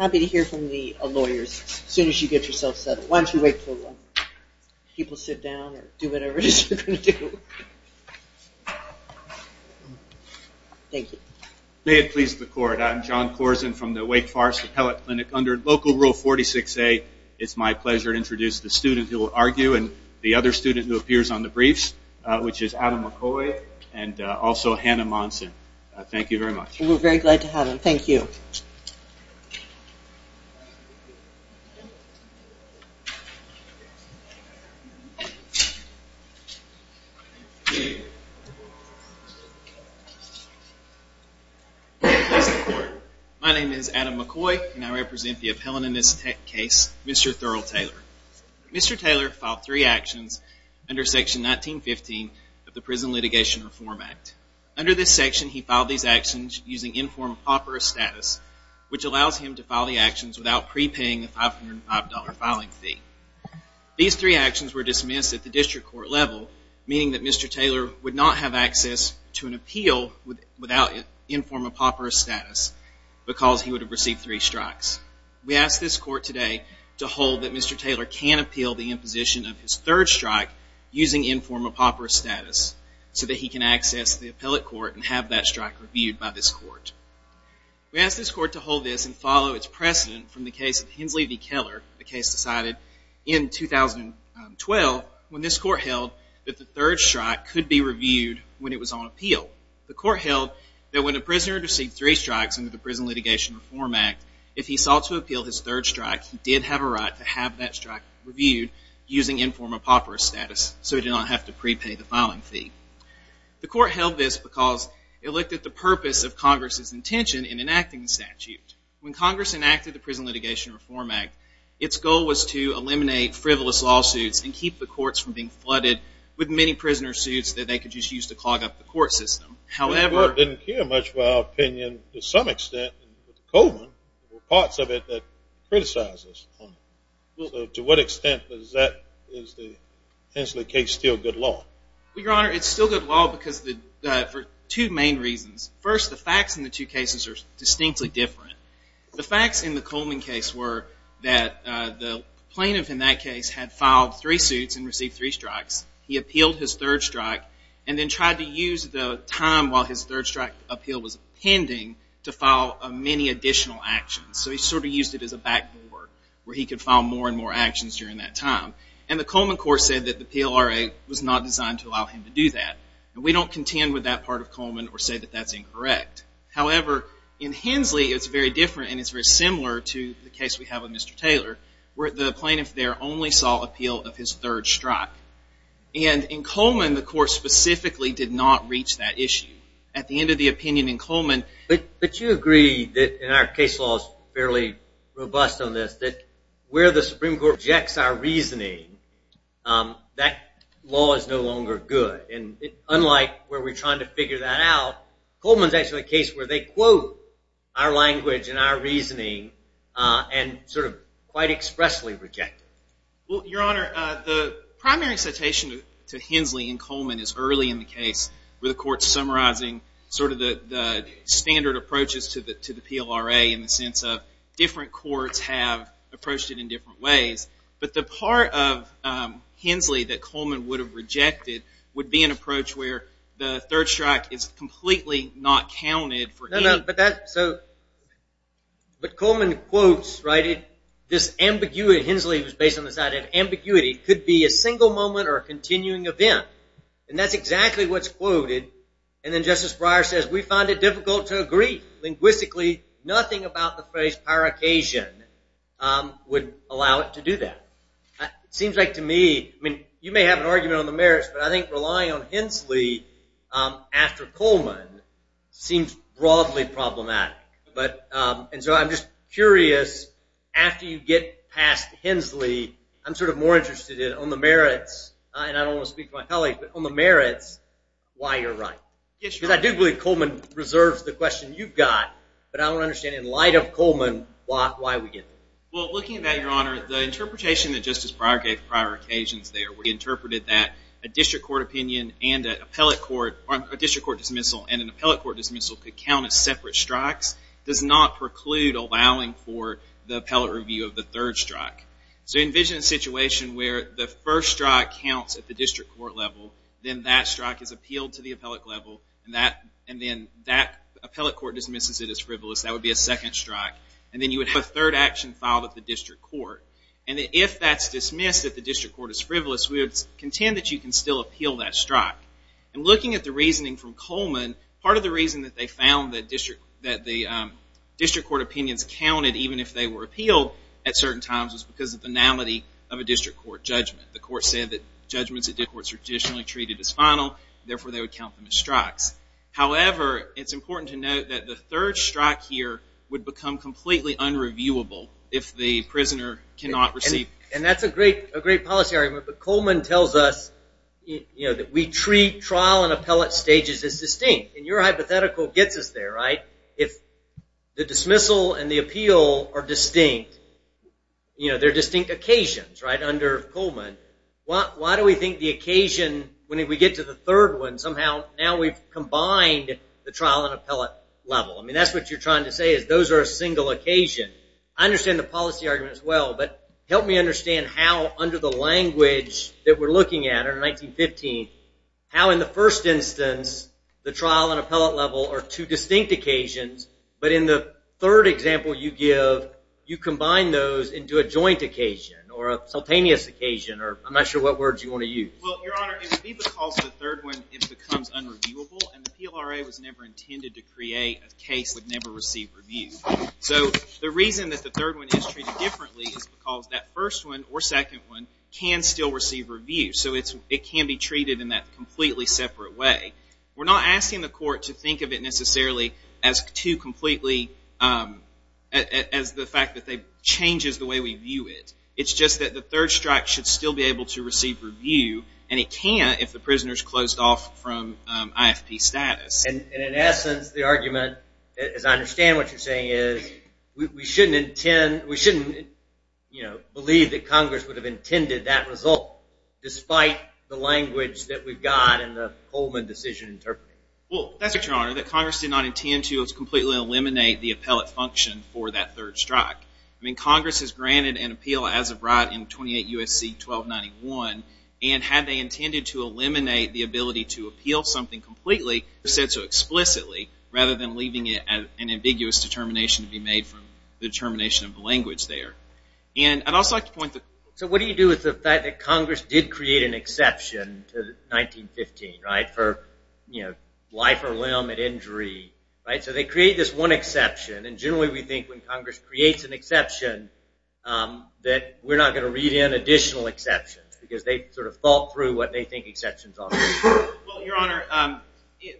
May it please the Court, I'm John Corzine from the Wake Forest Appellate Clinic. Under Local Rule 46A, it's my pleasure to introduce the student who will argue and the other student who appears on the briefs, which is Adam McCoy and also Hannah Monson. Thank you very much. We're very glad to have him. Thank you. My name is Adam McCoy and I represent the appellant in this case, Mr. Therl Taylor. Mr. Taylor filed three actions under Section 1915 of the Prison Litigation Reform Act. Under this section, he filed these actions using informed apoperous status, which allows him to file the actions without prepaying a $505 filing fee. These three actions were dismissed at the district court level, meaning that Mr. Taylor would not have access to an appeal without informed apoperous status because he would have received three strikes. We ask this court today to hold that Mr. Taylor can appeal the imposition of his third strike using informed apoperous status so that he can access the appellate court and have that strike reviewed by this court. We ask this court to hold this and follow its precedent from the case of Hensley v. Keller, a case decided in 2012 when this court held that the third strike could be reviewed when it was on appeal. The court held that when a prisoner received three strikes under the Prison Litigation Reform Act, if he sought to appeal his third strike, he did have a right to have that strike reviewed using informed apoperous status so he did not have to prepay the filing fee. The court held this because it looked at the purpose of Congress's intention in enacting the statute. When Congress enacted the Prison Litigation Reform Act, its goal was to eliminate frivolous lawsuits and keep the courts from being flooded with many prisoner suits that they could just use to clog up the court system. However... ...Coleman, there were parts of it that criticized this. To what extent is the Hensley case still good law? Your Honor, it's still good law for two main reasons. First, the facts in the two cases are distinctly different. The facts in the Coleman case were that the plaintiff in that case had filed three suits and received three strikes. He appealed his third strike and then tried to use the time while his third strike appeal was pending to file many additional actions. So he sort of used it as a backboard where he could file more and more actions during that time. And the Coleman court said that the PLRA was not designed to allow him to do that. We don't contend with that part of Coleman or say that that's incorrect. However, in Hensley, it's very different and it's very similar to the case we have with Mr. Taylor where the plaintiff there only saw appeal of his third strike. And in Coleman, the court specifically did not reach that issue. At the end of the opinion in Coleman... But you agree that in our case laws, fairly robust on this, that where the Supreme Court rejects our reasoning, that law is no longer good. And unlike where we're trying to figure that out, Coleman's actually a case where they quote our language and our reasoning and sort of quite expressly reject it. Well, Your Honor, the primary citation to Hensley in Coleman is early in the case where the court's summarizing sort of the standard approaches to the PLRA in the sense of different courts have approached it in different ways. But the part of Hensley that Coleman would have rejected would be an approach where the third strike is completely not counted for him. But Coleman quotes, right, this ambiguity, Hensley was based on this idea of ambiguity, could be a single moment or a continuing event. And that's exactly what's quoted. And then Justice Breyer says, we find it difficult to agree linguistically. Nothing about the phrase paracasion would allow it to do that. It seems like to me, I mean, you may have an argument on the grounds that it's problematic. And so I'm just curious, after you get past Hensley, I'm sort of more interested in on the merits, and I don't want to speak to my colleagues, but on the merits, why you're right. Because I do believe Coleman reserves the question you've got, but I want to understand in light of Coleman, why we get it. Well, looking at that, Your Honor, the interpretation that Justice Breyer gave prior occasions there, we interpreted that a district court opinion and an appellate court, or a district court dismissal, and an appellate court dismissal could count as separate strikes, does not preclude allowing for the appellate review of the third strike. So envision a situation where the first strike counts at the district court level, then that strike is appealed to the appellate level, and then that appellate court dismisses it as frivolous. That would be a second strike. And then you would have a third action filed at the district court. And if that's dismissed, if the appellate court doesn't appeal that strike. And looking at the reasoning from Coleman, part of the reason that they found that the district court opinions counted, even if they were appealed at certain times, was because of the banality of a district court judgment. The court said that judgments at district courts are traditionally treated as final, therefore they would count them as strikes. However, it's important to note that the third strike here would become completely unreviewable if the prisoner cannot receive. And that's a great policy argument, but Coleman tells us that we treat trial and appellate stages as distinct. And your hypothetical gets us there, right? If the dismissal and the appeal are distinct, they're distinct occasions, right, under Coleman, why do we think the occasion, when we get to the third one, somehow now we've combined the trial and appellate level. I mean, that's what you're trying to say is those are a single occasion. I understand the policy argument as well, but help me understand how under the language that we're looking at in 1915, how in the first instance, the trial and appellate level are two distinct occasions, but in the third example you give, you combine those into a joint occasion, or a simultaneous occasion, or I'm not sure what words you want to use. Well, Your Honor, it would be because the third one, it becomes unreviewable, and the PLRA was never intended to create a case that never received review. So the reason that the third one is treated differently is because that first one, or second one, can still receive review. So it can be treated in that completely separate way. We're not asking the court to think of it necessarily as two completely, as the fact that they, changes the way we view it. It's just that the third strike should still be able to receive review, and it can if the prisoners closed off from IFP status. And in essence, the argument, as I understand what you're saying is, we shouldn't intend, we shouldn't, you know, believe that Congress would have intended that result, despite the language that we've got and the Coleman decision interpreting it. Well, that's right, Your Honor, that Congress did not intend to completely eliminate the appellate function for that third strike. I mean, Congress has granted an appeal as of right in 28 U.S.C. 1291, and had they intended to eliminate the ability to appeal something completely, said so explicitly, rather than leaving it as an ambiguous determination to be made from the determination of the language there. And I'd also like to point to- So what do you do with the fact that Congress did create an exception to 1915, right, for, you know, life or limb at injury, right? So they create this one exception, and generally we think when Congress creates an exception, that we're not going to read in additional exceptions, because they sort of thought through what they think exceptions are. Well, Your Honor,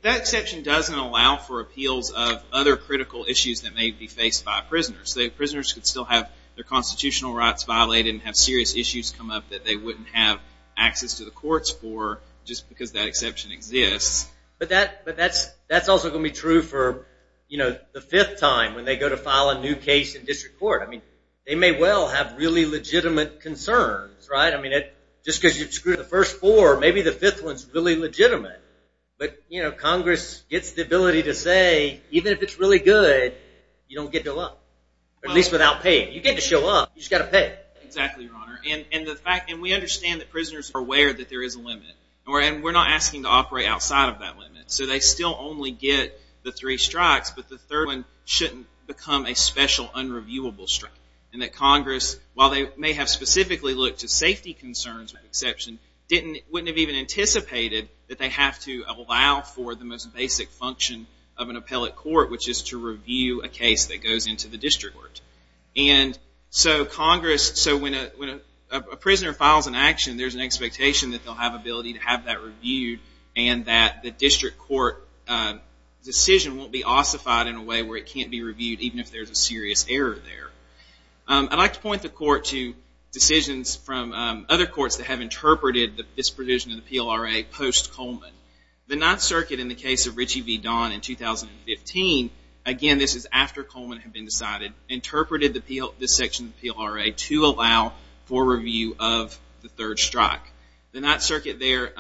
that exception doesn't allow for appeals of other critical issues that may be faced by prisoners. The prisoners could still have their constitutional rights violated and have serious issues come up that they wouldn't have access to the courts for, just because that exception exists. But that's also going to be true for, you know, the fifth time when they go to file a new case in district court. I mean, they may well have really legitimate concerns, right? I mean, just because you've screwed the first four, maybe the fifth one's really legitimate. But, you know, Congress gets the ability to say, even if it's really good, you don't get to look, at least without paying. You get to show up, you just got to pay. Exactly, Your Honor. And we understand that prisoners are aware that there is a limit, and we're not asking to operate outside of that limit. So they still only get the three strikes, but the third one shouldn't become a special, unreviewable strike. And that Congress, while they may have specifically looked to safety concerns with exception, wouldn't have even anticipated that they have to allow for the most basic function of an appellate court, which is to review a case that goes into the district court. And so Congress, so when a prisoner files an action, there's an expectation that they'll have ability to have that reviewed, and that the district court decision won't be ossified in a way where it can't be reviewed, even if there's a difference from other courts that have interpreted this provision of the PLRA post-Coleman. The Ninth Circuit, in the case of Ritchie v. Don in 2015, again, this is after Coleman had been decided, interpreted this section of the PLRA to allow for review of the third strike. The Ninth Circuit there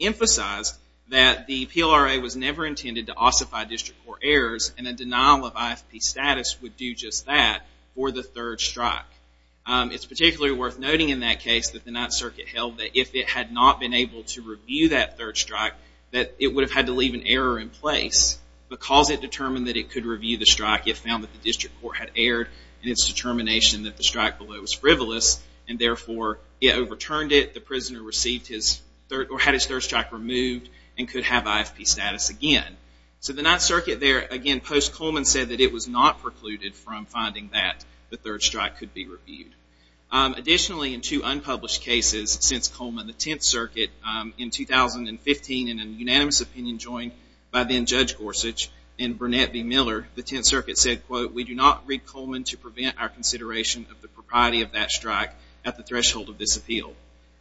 emphasized that the PLRA was never intended to ossify district court errors, and a denial of IFP status would do just that for the third strike. It's particularly worth noting in that case that the Ninth Circuit held that if it had not been able to review that third strike, that it would have had to leave an error in place. Because it determined that it could review the strike, it found that the district court had erred in its determination that the strike below was frivolous, and therefore it overturned it. The prisoner received his third, or had his third strike removed and could have Additionally, in two unpublished cases since Coleman, the Tenth Circuit, in 2015, in a unanimous opinion joined by then-Judge Gorsuch and Burnett v. Miller, the Tenth Circuit said, quote, we do not read Coleman to prevent our consideration of the propriety of that strike at the threshold of this appeal.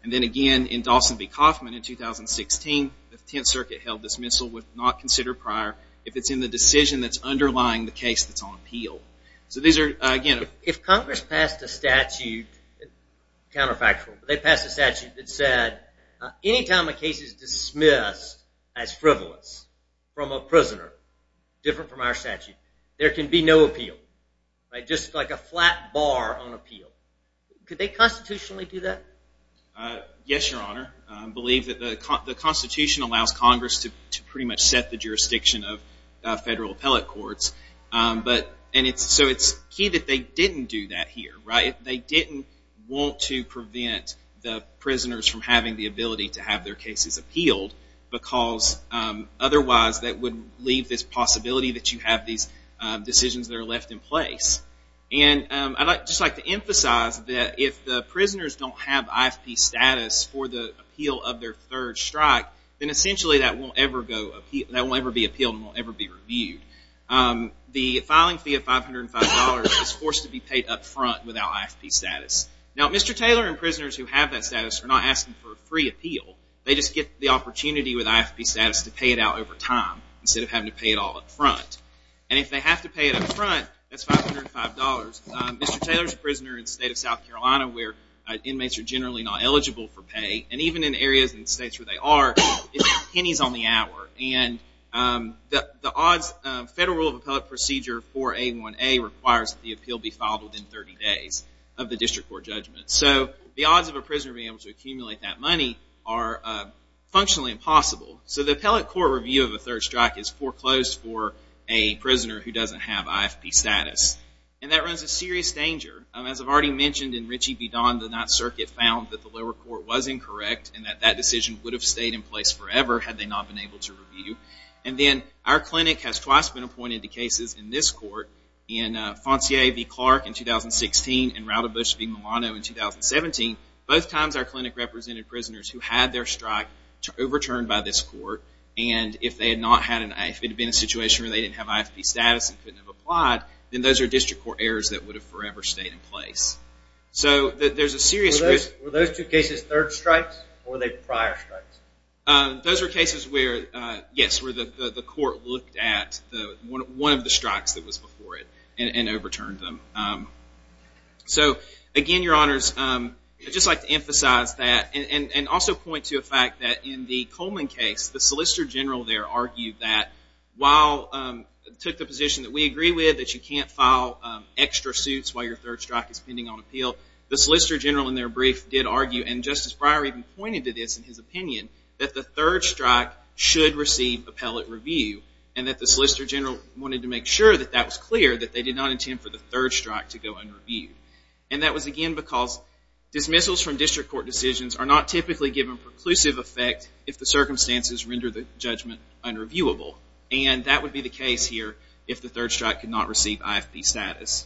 And then again, in Dawson v. Kaufman in 2016, the Tenth Circuit held this missile was not considered prior if it's in the decision that's underlying the case that's on appeal. So these are, again... If Congress passed a statute, counterfactual, but they passed a statute that said any time a case is dismissed as frivolous from a prisoner, different from our statute, there can be no appeal. Right? Just like a flat bar on appeal. Could they constitutionally do that? Yes, Your Honor. I believe that the Constitution allows Congress to pretty much set the jurisdiction of federal appellate courts. So it's key that they didn't do that here. They didn't want to prevent the prisoners from having the ability to have their cases appealed, because otherwise that would leave this possibility that you have these decisions that are left in place. And I'd just like to emphasize that if the prisoners don't have IFP status for the appeal of their third strike, then essentially that won't ever be appealed and won't ever be reviewed. The filing fee of $505 is forced to be paid up front without IFP status. Now, Mr. Taylor and prisoners who have that status are not asking for a free appeal. They just get the opportunity with IFP status to pay it out over time instead of having to pay it all up front. And if they have to pay it up front, that's $505. Mr. Taylor's a prisoner in the state of South Carolina where inmates are generally not Federal Rule of Appellate Procedure 4A1A requires that the appeal be filed within 30 days of the district court judgment. So the odds of a prisoner being able to accumulate that money are functionally impossible. So the appellate court review of a third strike is foreclosed for a prisoner who doesn't have IFP status. And that runs a serious danger. As I've already mentioned, in Ritchie v. Don, the 9th Circuit found that the clinic has twice been appointed to cases in this court, in Foncier v. Clark in 2016 and Roudabush v. Milano in 2017. Both times our clinic represented prisoners who had their strike overturned by this court. And if they had not had an IFP, if it had been a situation where they didn't have IFP status and couldn't have applied, then those are district court errors that would have forever stayed in place. So there's a one of the strikes that was before it and overturned them. So again, Your Honors, I'd just like to emphasize that and also point to a fact that in the Coleman case, the Solicitor General there argued that while, took the position that we agree with, that you can't file extra suits while your third strike is pending on appeal. The Solicitor General in their brief did argue, and Justice Breyer even pointed to this in his opinion, that the third strike should receive appellate review and that the Solicitor General wanted to make sure that that was clear, that they did not intend for the third strike to go unreviewed. And that was again because dismissals from district court decisions are not typically given preclusive effect if the circumstances render the judgment unreviewable. And that would be the case here if the third strike could not receive IFP status.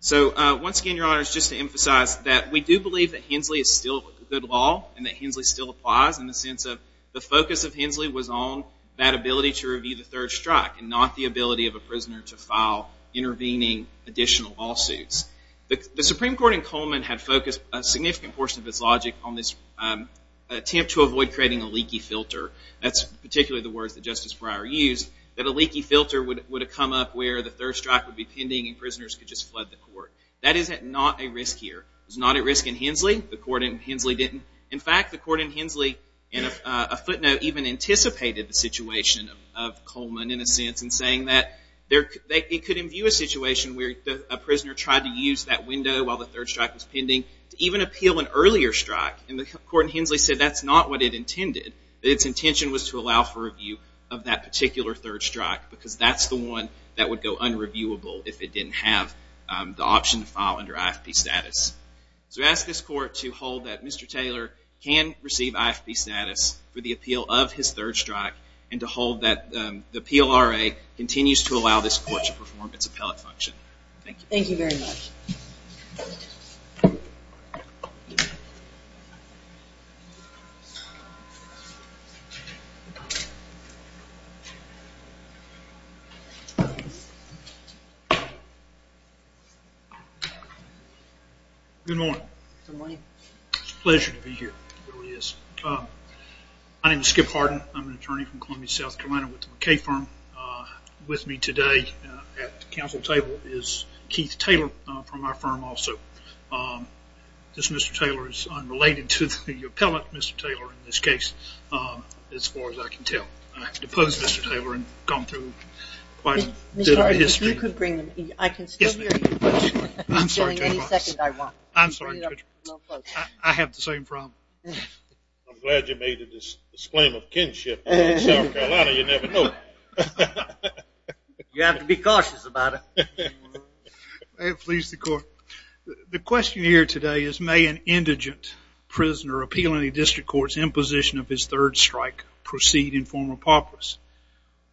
So once again, Your Honors, just to emphasize that we do believe that Hensley is still a good law and that Hensley still applies in the sense of the focus of Hensley was on that ability to review the third strike and not the ability of a prisoner to file intervening additional lawsuits. The Supreme Court in Coleman had focused a significant portion of its logic on this attempt to avoid creating a leaky filter. That's particularly the words that Justice Breyer used, that a leaky filter would have come up where the third strike would be pending and prisoners could just flood the court. That is not a risk here. It was not a risk in Hensley. The court in Hensley didn't. In fact, the court in Hensley in a footnote even anticipated the situation of Coleman in a sense in saying that it could imbue a situation where a prisoner tried to use that window while the third strike was pending to even appeal an earlier strike. And the court in Hensley said that's not what it intended. Its intention was to allow for review of that particular third strike because that's the one that would go ahead and receive IFP status for the appeal of his third strike and to hold that the PLRA continues to allow this court to perform its appellate function. Thank you. Thank you very much. Good morning. It's a pleasure to be here. It really is. My name is Skip Harden. I'm an attorney from Columbia, South Carolina with the McKay firm. With me today at the council table is Keith Taylor from our firm also. This Mr. Taylor is unrelated to the appellate Mr. Taylor in this case as far as I can tell. I have to oppose Mr. Taylor and gone through quite a bit of history. I'm sorry. I have the same problem. I'm glad you made a disclaimer of kinship in South Carolina. You never know. You have to be cautious about it. May it please the court. The question here today is may an indigent prisoner appeal in the district court's imposition of his third strike proceed in form of paupers.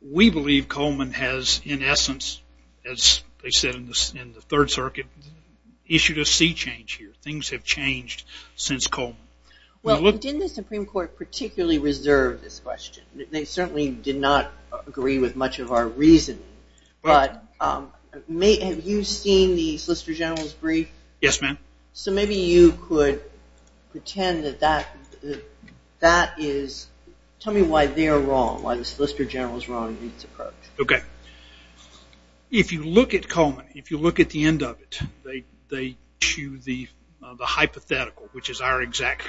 We believe Coleman has in essence as they said in the third circuit issued a sea change here. Things have changed since Coleman. Didn't the Supreme Court particularly reserve this question? They certainly did not agree with much of our reasoning. Have you seen the Solicitor General's brief? Yes, ma'am. So maybe you could pretend that that is, tell me why they are wrong, why the Solicitor General is wrong in our exact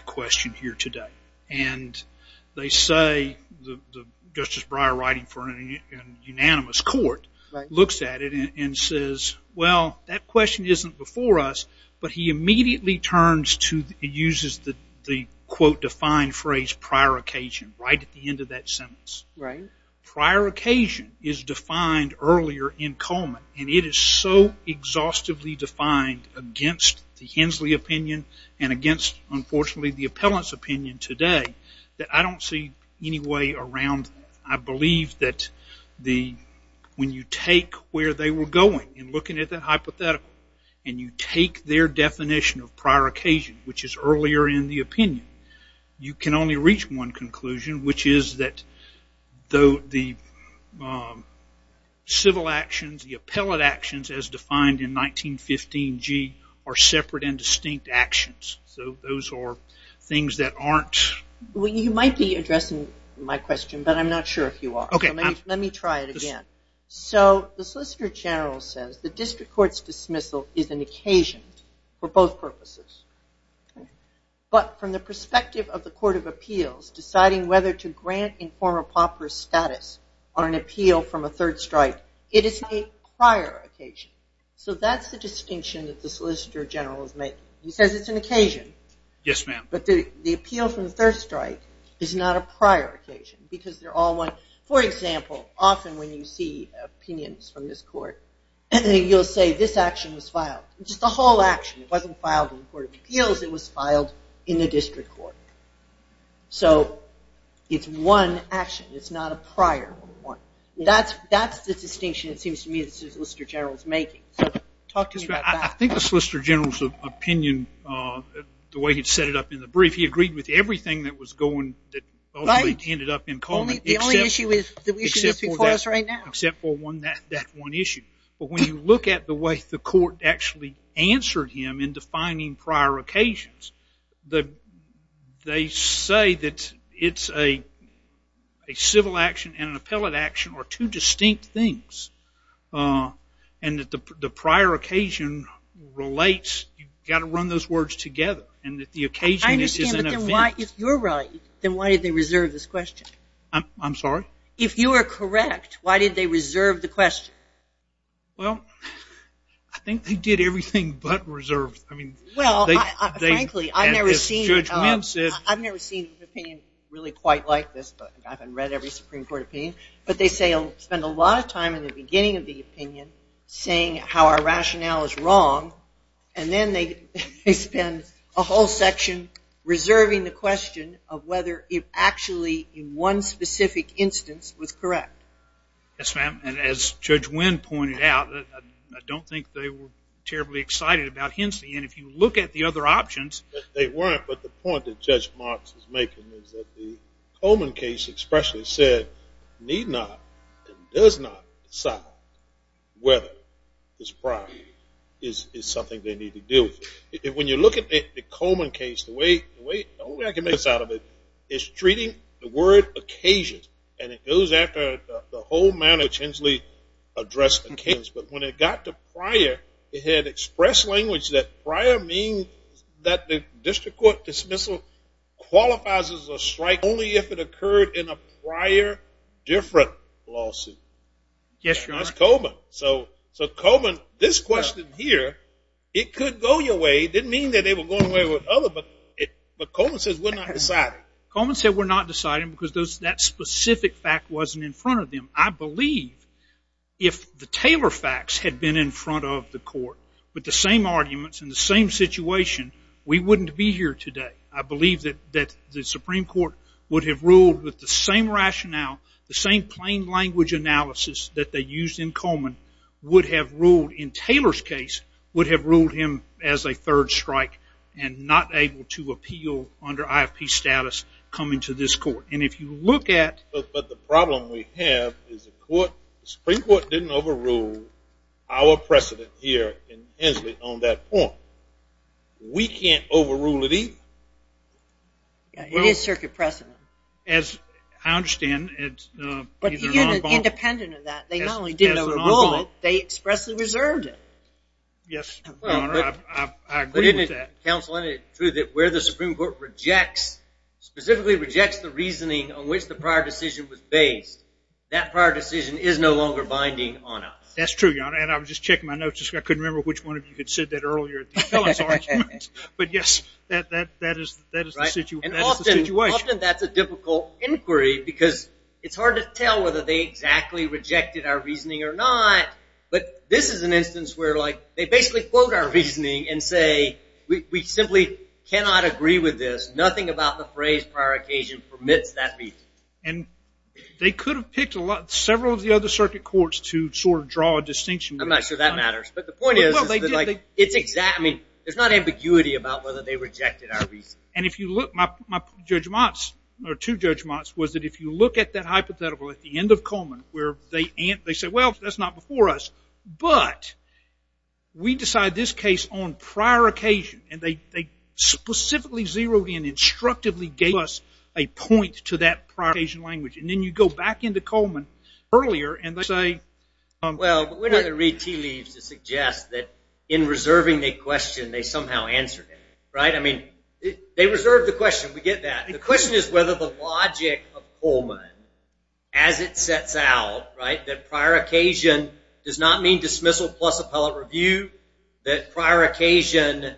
question here today. And they say Justice Breyer writing for an unanimous court looks at it and says well that question isn't before us, but he immediately turns to, he uses the quote defined phrase prior occasion right at the end of that sentence. Prior occasion is unfortunately the appellant's opinion today that I don't see any way around. I believe that when you take where they were going and looking at that hypothetical and you take their definition of prior occasion, which is earlier in the opinion, you can only reach one conclusion which is that the civil actions, the appellant actions as defined in 1915 G are separate and distinct actions. So those are things that aren't. You might be addressing my question, but I'm not sure if you are. Let me try it again. So the Solicitor General says the district court's dismissal is an occasion for both purposes. But from the perspective of the Court of Appeals deciding whether to grant informer pauper status on an appeal from a third strike, it is a prior occasion. So that's the distinction that the Solicitor General is making. He says it's an occasion, but the appeal from the third strike is not a prior occasion. For example, often when you see opinions from this court, you'll say this action was filed. Just the whole action. It wasn't filed in the Court of Appeals. It was filed in the district court. So it's one action. It's not a prior one. That's the distinction it seems to me the Solicitor General is making. I think the Solicitor General's opinion, the way he set it up in the brief, he agreed with everything that ended up in common except for that one issue. But when you look at the way the prior occasion relates, you've got to run those words together. And that the occasion is an event. I understand. But then why, if you're right, then why did they reserve this question? I'm sorry? If you are correct, why did they reserve the question? Well, I think they did everything but reserve. Well, frankly, I've never seen an opinion really quite like this. I haven't read every Supreme Court opinion. But they spend a lot of time in the beginning of the opinion saying how our rationale is wrong. And then they spend a whole section reserving the question of whether it actually, in one specific instance, was correct. Yes, ma'am. And as is making is that the Coleman case expressly said, need not and does not decide whether this prior is something they need to deal with. When you look at the Coleman case, the way I can make this out of it is treating the word occasion. And it goes after the whole manner which Hensley addressed the case. But when it got to prior, it had expressed language that prior means that the district court dismissal qualifies as a strike only if it occurred in a prior different lawsuit. Yes, Your Honor. And that's Coleman. So Coleman, this question here, it could go your way. It didn't mean that they were going away with other, but Coleman says we're not deciding. Coleman said we're not deciding because that specific fact wasn't in front of them. I believe if the Supreme Court had been in front of the court with the same arguments and the same situation, we wouldn't be here today. I believe that the Supreme Court would have ruled with the same rationale, the same plain language analysis that they used in Coleman would have ruled, in Taylor's case, would have ruled him as a third strike and not able to appeal under IFP status coming to this court. And if you look at... But the problem we have is the Supreme Court has put our precedent here in Hensley on that point. We can't overrule it either. It is circuit precedent. As I understand, it's... Independent of that, they not only didn't overrule it, they expressly reserved it. Yes, Your Honor, I agree with that. But isn't it true that where the Supreme Court rejects, specifically rejects the reasoning on which the prior decision was based, that prior decision is no longer binding on us? That's true, Your Honor. And I was just checking my notes. I couldn't remember which one of you said that earlier. But yes, that is the situation. And often that's a difficult inquiry because it's hard to tell whether they exactly rejected our reasoning or not. But this is an instance where, like, they basically quote our reasoning and say, we simply cannot agree with this. Nothing about the phrase prior occasion permits that reason. And they could have picked several of the other circuit courts to sort of draw a distinction. I'm not sure that matters. But the point is, it's exactly... There's not ambiguity about whether they rejected our reasoning. And if you look, my judgments, or two judgments, was that if you look at that hypothetical at the end of Coleman, where they say, well, that's not before us, but we decide this case on prior occasion, and they specifically zeroed in, instructively gave us a point to that prior occasion language. And then you go back into Coleman earlier, and they say... Well, we're not going to read tea leaves to suggest that in reserving the question, they somehow answered it. Right? I mean, they reserved the question. We get that. The question is whether the logic of Coleman, as it sets out, right, that prior occasion does not mean dismissal plus appellate review, that prior occasion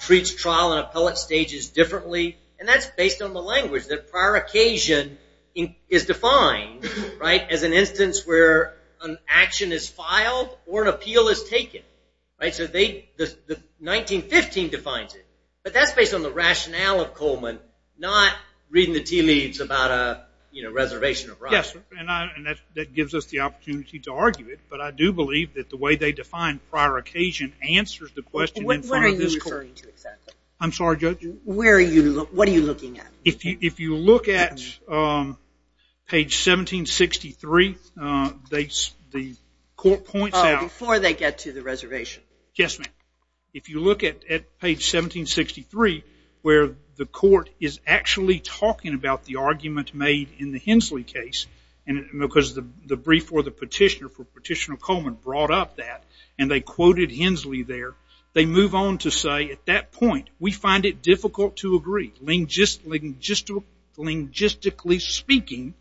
treats trial and appellate stages differently. And that's based on the language, that prior occasion is defined, right, as an instance where an action is filed or an appeal is taken. Right? So they... The 1915 defines it. But that's based on the rationale of Coleman, not reading the tea leaves about a reservation of rights. Yes. And that gives us the opportunity to argue it. But I do believe that the way they define prior occasion answers the question... What are you referring to exactly? I'm sorry, Judge? Where are you... What are you looking at? If you look at page 1763, the court points out... Oh, before they get to the reservation. Yes, ma'am. If you look at page 1763, where the court is actually talking about the argument made in the Hensley case, because the brief for the petitioner, for Petitioner Coleman, brought up that, and they quoted Hensley there, they move on to say, at that point, we find it difficult to agree. Logistically speaking,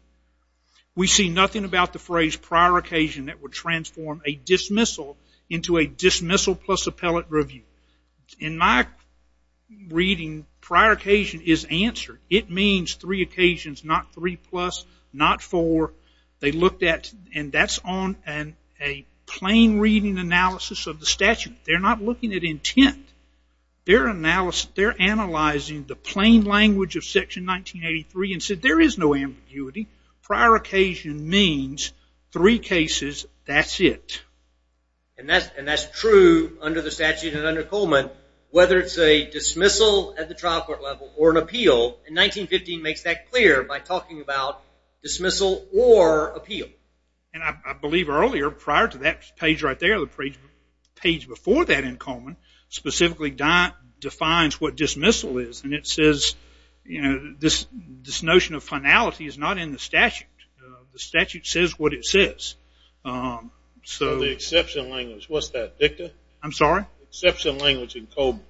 we see nothing about the phrase prior occasion that would transform a dismissal into a dismissal plus appellate review. In my reading, prior occasion is answered. It means three occasions, not three plus, not four. They looked at... And that's on a plain reading analysis of the statute. They're not looking at intent. They're analyzing the plain language of section 1983 and said there is no ambiguity. Prior occasion means three cases, that's it. And that's true under the statute and under Coleman, whether it's a dismissal at the trial court level or an appeal. And 1915 makes that clear by talking about dismissal or appeal. And I believe earlier, prior to that page right there, the page before that in Coleman, specifically defines what dismissal is. And it says, you know, this notion of finality is not in the statute. The statute says what it says. So the exception language, what's that, Victor? I'm sorry? The exception language in Coleman.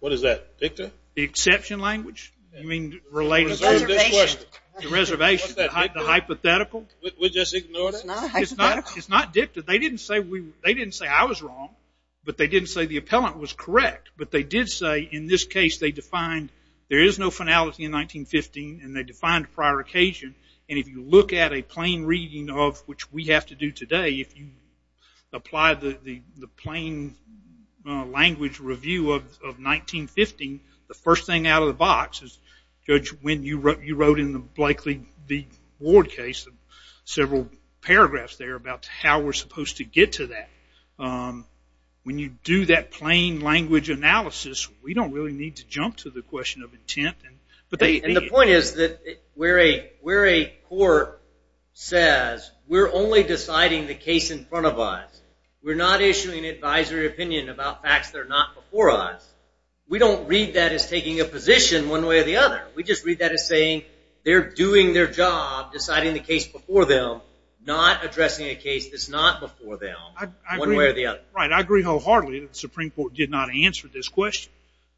What is that, Victor? The exception language? You mean related... The reservation. The reservation. What's that, Victor? The hypothetical? We're just ignoring it? It's not hypothetical. It's not dicta. They didn't say I was wrong, but they didn't say the appellant was correct. But they did say in this case they defined there is no finality in 1915, and they defined prior occasion. And if you look at a plain reading of, which we have to do today, if you apply the plain language review of 1915, the first thing out of the box is, Judge, you wrote in the Blakely v. Ward case several paragraphs there about how we're supposed to get to that. When you do that plain language analysis, we don't really need to jump to the question of intent. And the point is that where a court says we're only deciding the case in front of us, we're not issuing advisory opinion about facts that are not before us, we don't read that as taking a position one way or the other. We just read that as saying they're doing their job deciding the case before them, not addressing a case that's not before them one way or the other. I agree wholeheartedly that the Supreme Court did not answer this question,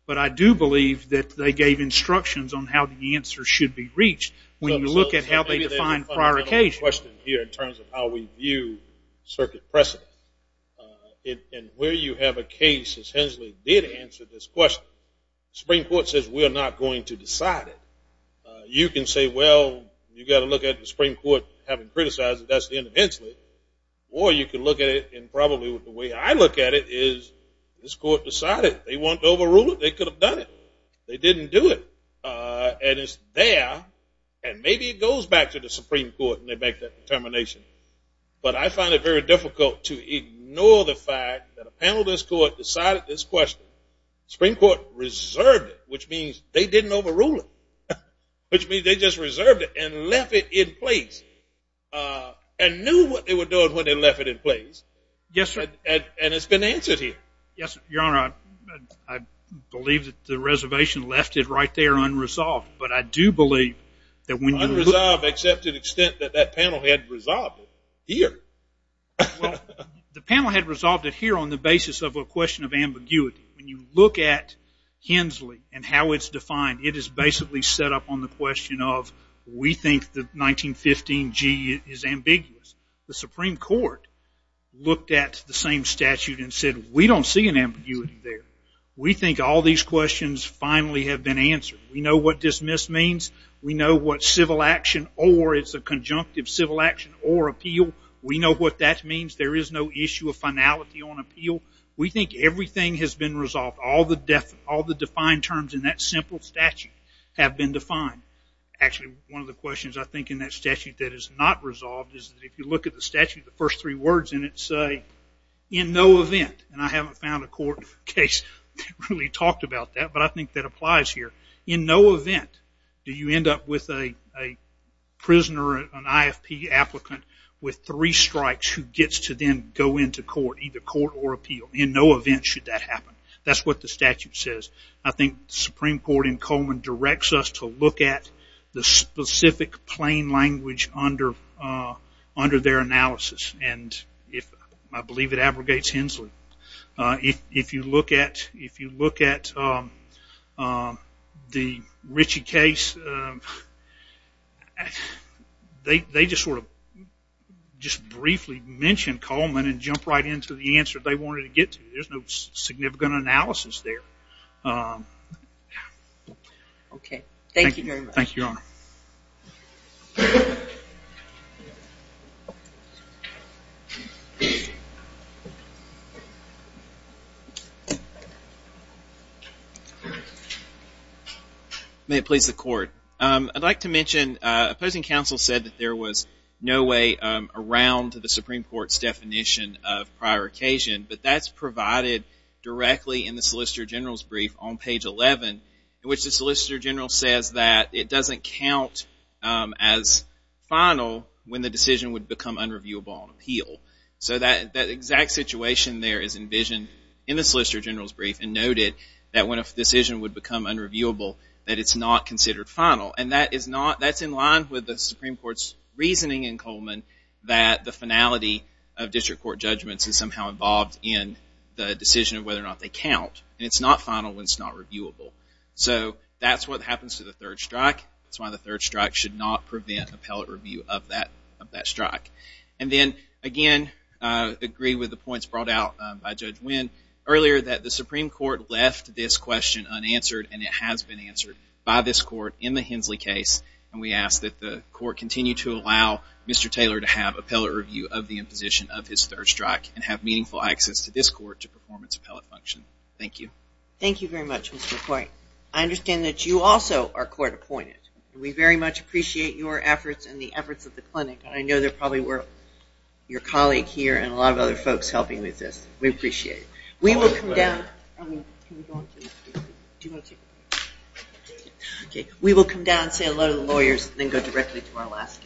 but I do believe that they gave instructions on how the answer should be reached when you look at how they define prior occasion. Maybe there's a fundamental question here in terms of how we view circuit precedent. And where you have a case, as Hensley did answer this question, the Supreme Court says we're not going to decide it. You can say, well, you've got to look at the Supreme Court having criticized it. That's the end of Hensley. Or you can look at it, and probably the way I look at it is this court decided. They want to overrule it. They could have done it. They didn't do it. And it's there, and maybe it goes back to the Supreme Court and they make that determination. But I find it very difficult to ignore the fact that a panel of this court decided this question. The Supreme Court reserved it, which means they didn't overrule it, which means they just reserved it and left it in place and knew what they were doing when they left it in place. Yes, sir. And it's been answered here. Yes, Your Honor. I believe that the reservation left it right there unresolved, but I do believe that when you look at it. Unresolved except to the extent that that panel had resolved it here. Well, the panel had resolved it here on the basis of a question of ambiguity. When you look at Hensley and how it's defined, it is basically set up on the question of we think that 1915G is ambiguous. The Supreme Court looked at the same statute and said we don't see an ambiguity there. We think all these questions finally have been answered. We know what dismiss means. We know what civil action or it's a conjunctive civil action or appeal. We know what that means. There is no issue of finality on appeal. We think everything has been resolved. All the defined terms in that simple statute have been defined. Actually, one of the questions I think in that statute that is not resolved is that if you look at the statute, the first three words in it say in no event, and I haven't found a court case that really talked about that, but I think that applies here. In no event do you end up with a prisoner, an IFP applicant, with three strikes who gets to then go into court, either court or appeal. In no event should that happen. That's what the statute says. I think the Supreme Court in Coleman directs us to look at the specific plain language under their analysis, and I believe it abrogates Hensley. If you look at the Ritchie case, they just sort of briefly mention Coleman and jump right into the answer they wanted to get to. There's no significant analysis there. Thank you, Your Honor. May it please the court. I'd like to mention opposing counsel said that there was no way around the Supreme Court's definition of prior occasion, but that's provided directly in the Solicitor General's brief on page 11, in which the Solicitor General says that it doesn't count as final when the decision would become unreviewable on appeal. So that exact situation there is envisioned in the Solicitor General's brief and noted that when a decision would become unreviewable, that it's not considered final. And that's in line with the Supreme Court's reasoning in Coleman that the finality of district court judgments is somehow involved in the decision of whether or not they count, and it's not final when it's not reviewable. So that's what happens to the third strike. That's why the third strike should not prevent appellate review of that strike. And then, again, I agree with the points brought out by Judge Wynn earlier that the Supreme Court left this question unanswered, and it has been answered by this court in the Hensley case, and we ask that the court continue to allow Mr. Taylor to have appellate review of the imposition of his third strike and have meaningful access to this court to performance appellate function. Thank you. Thank you very much, Mr. Coyne. I understand that you also are court appointed. We very much appreciate your efforts and the efforts of the clinic. I know there probably were your colleague here and a lot of other folks helping with this. We appreciate it. We will come down and say hello to the lawyers and then go directly to our last case.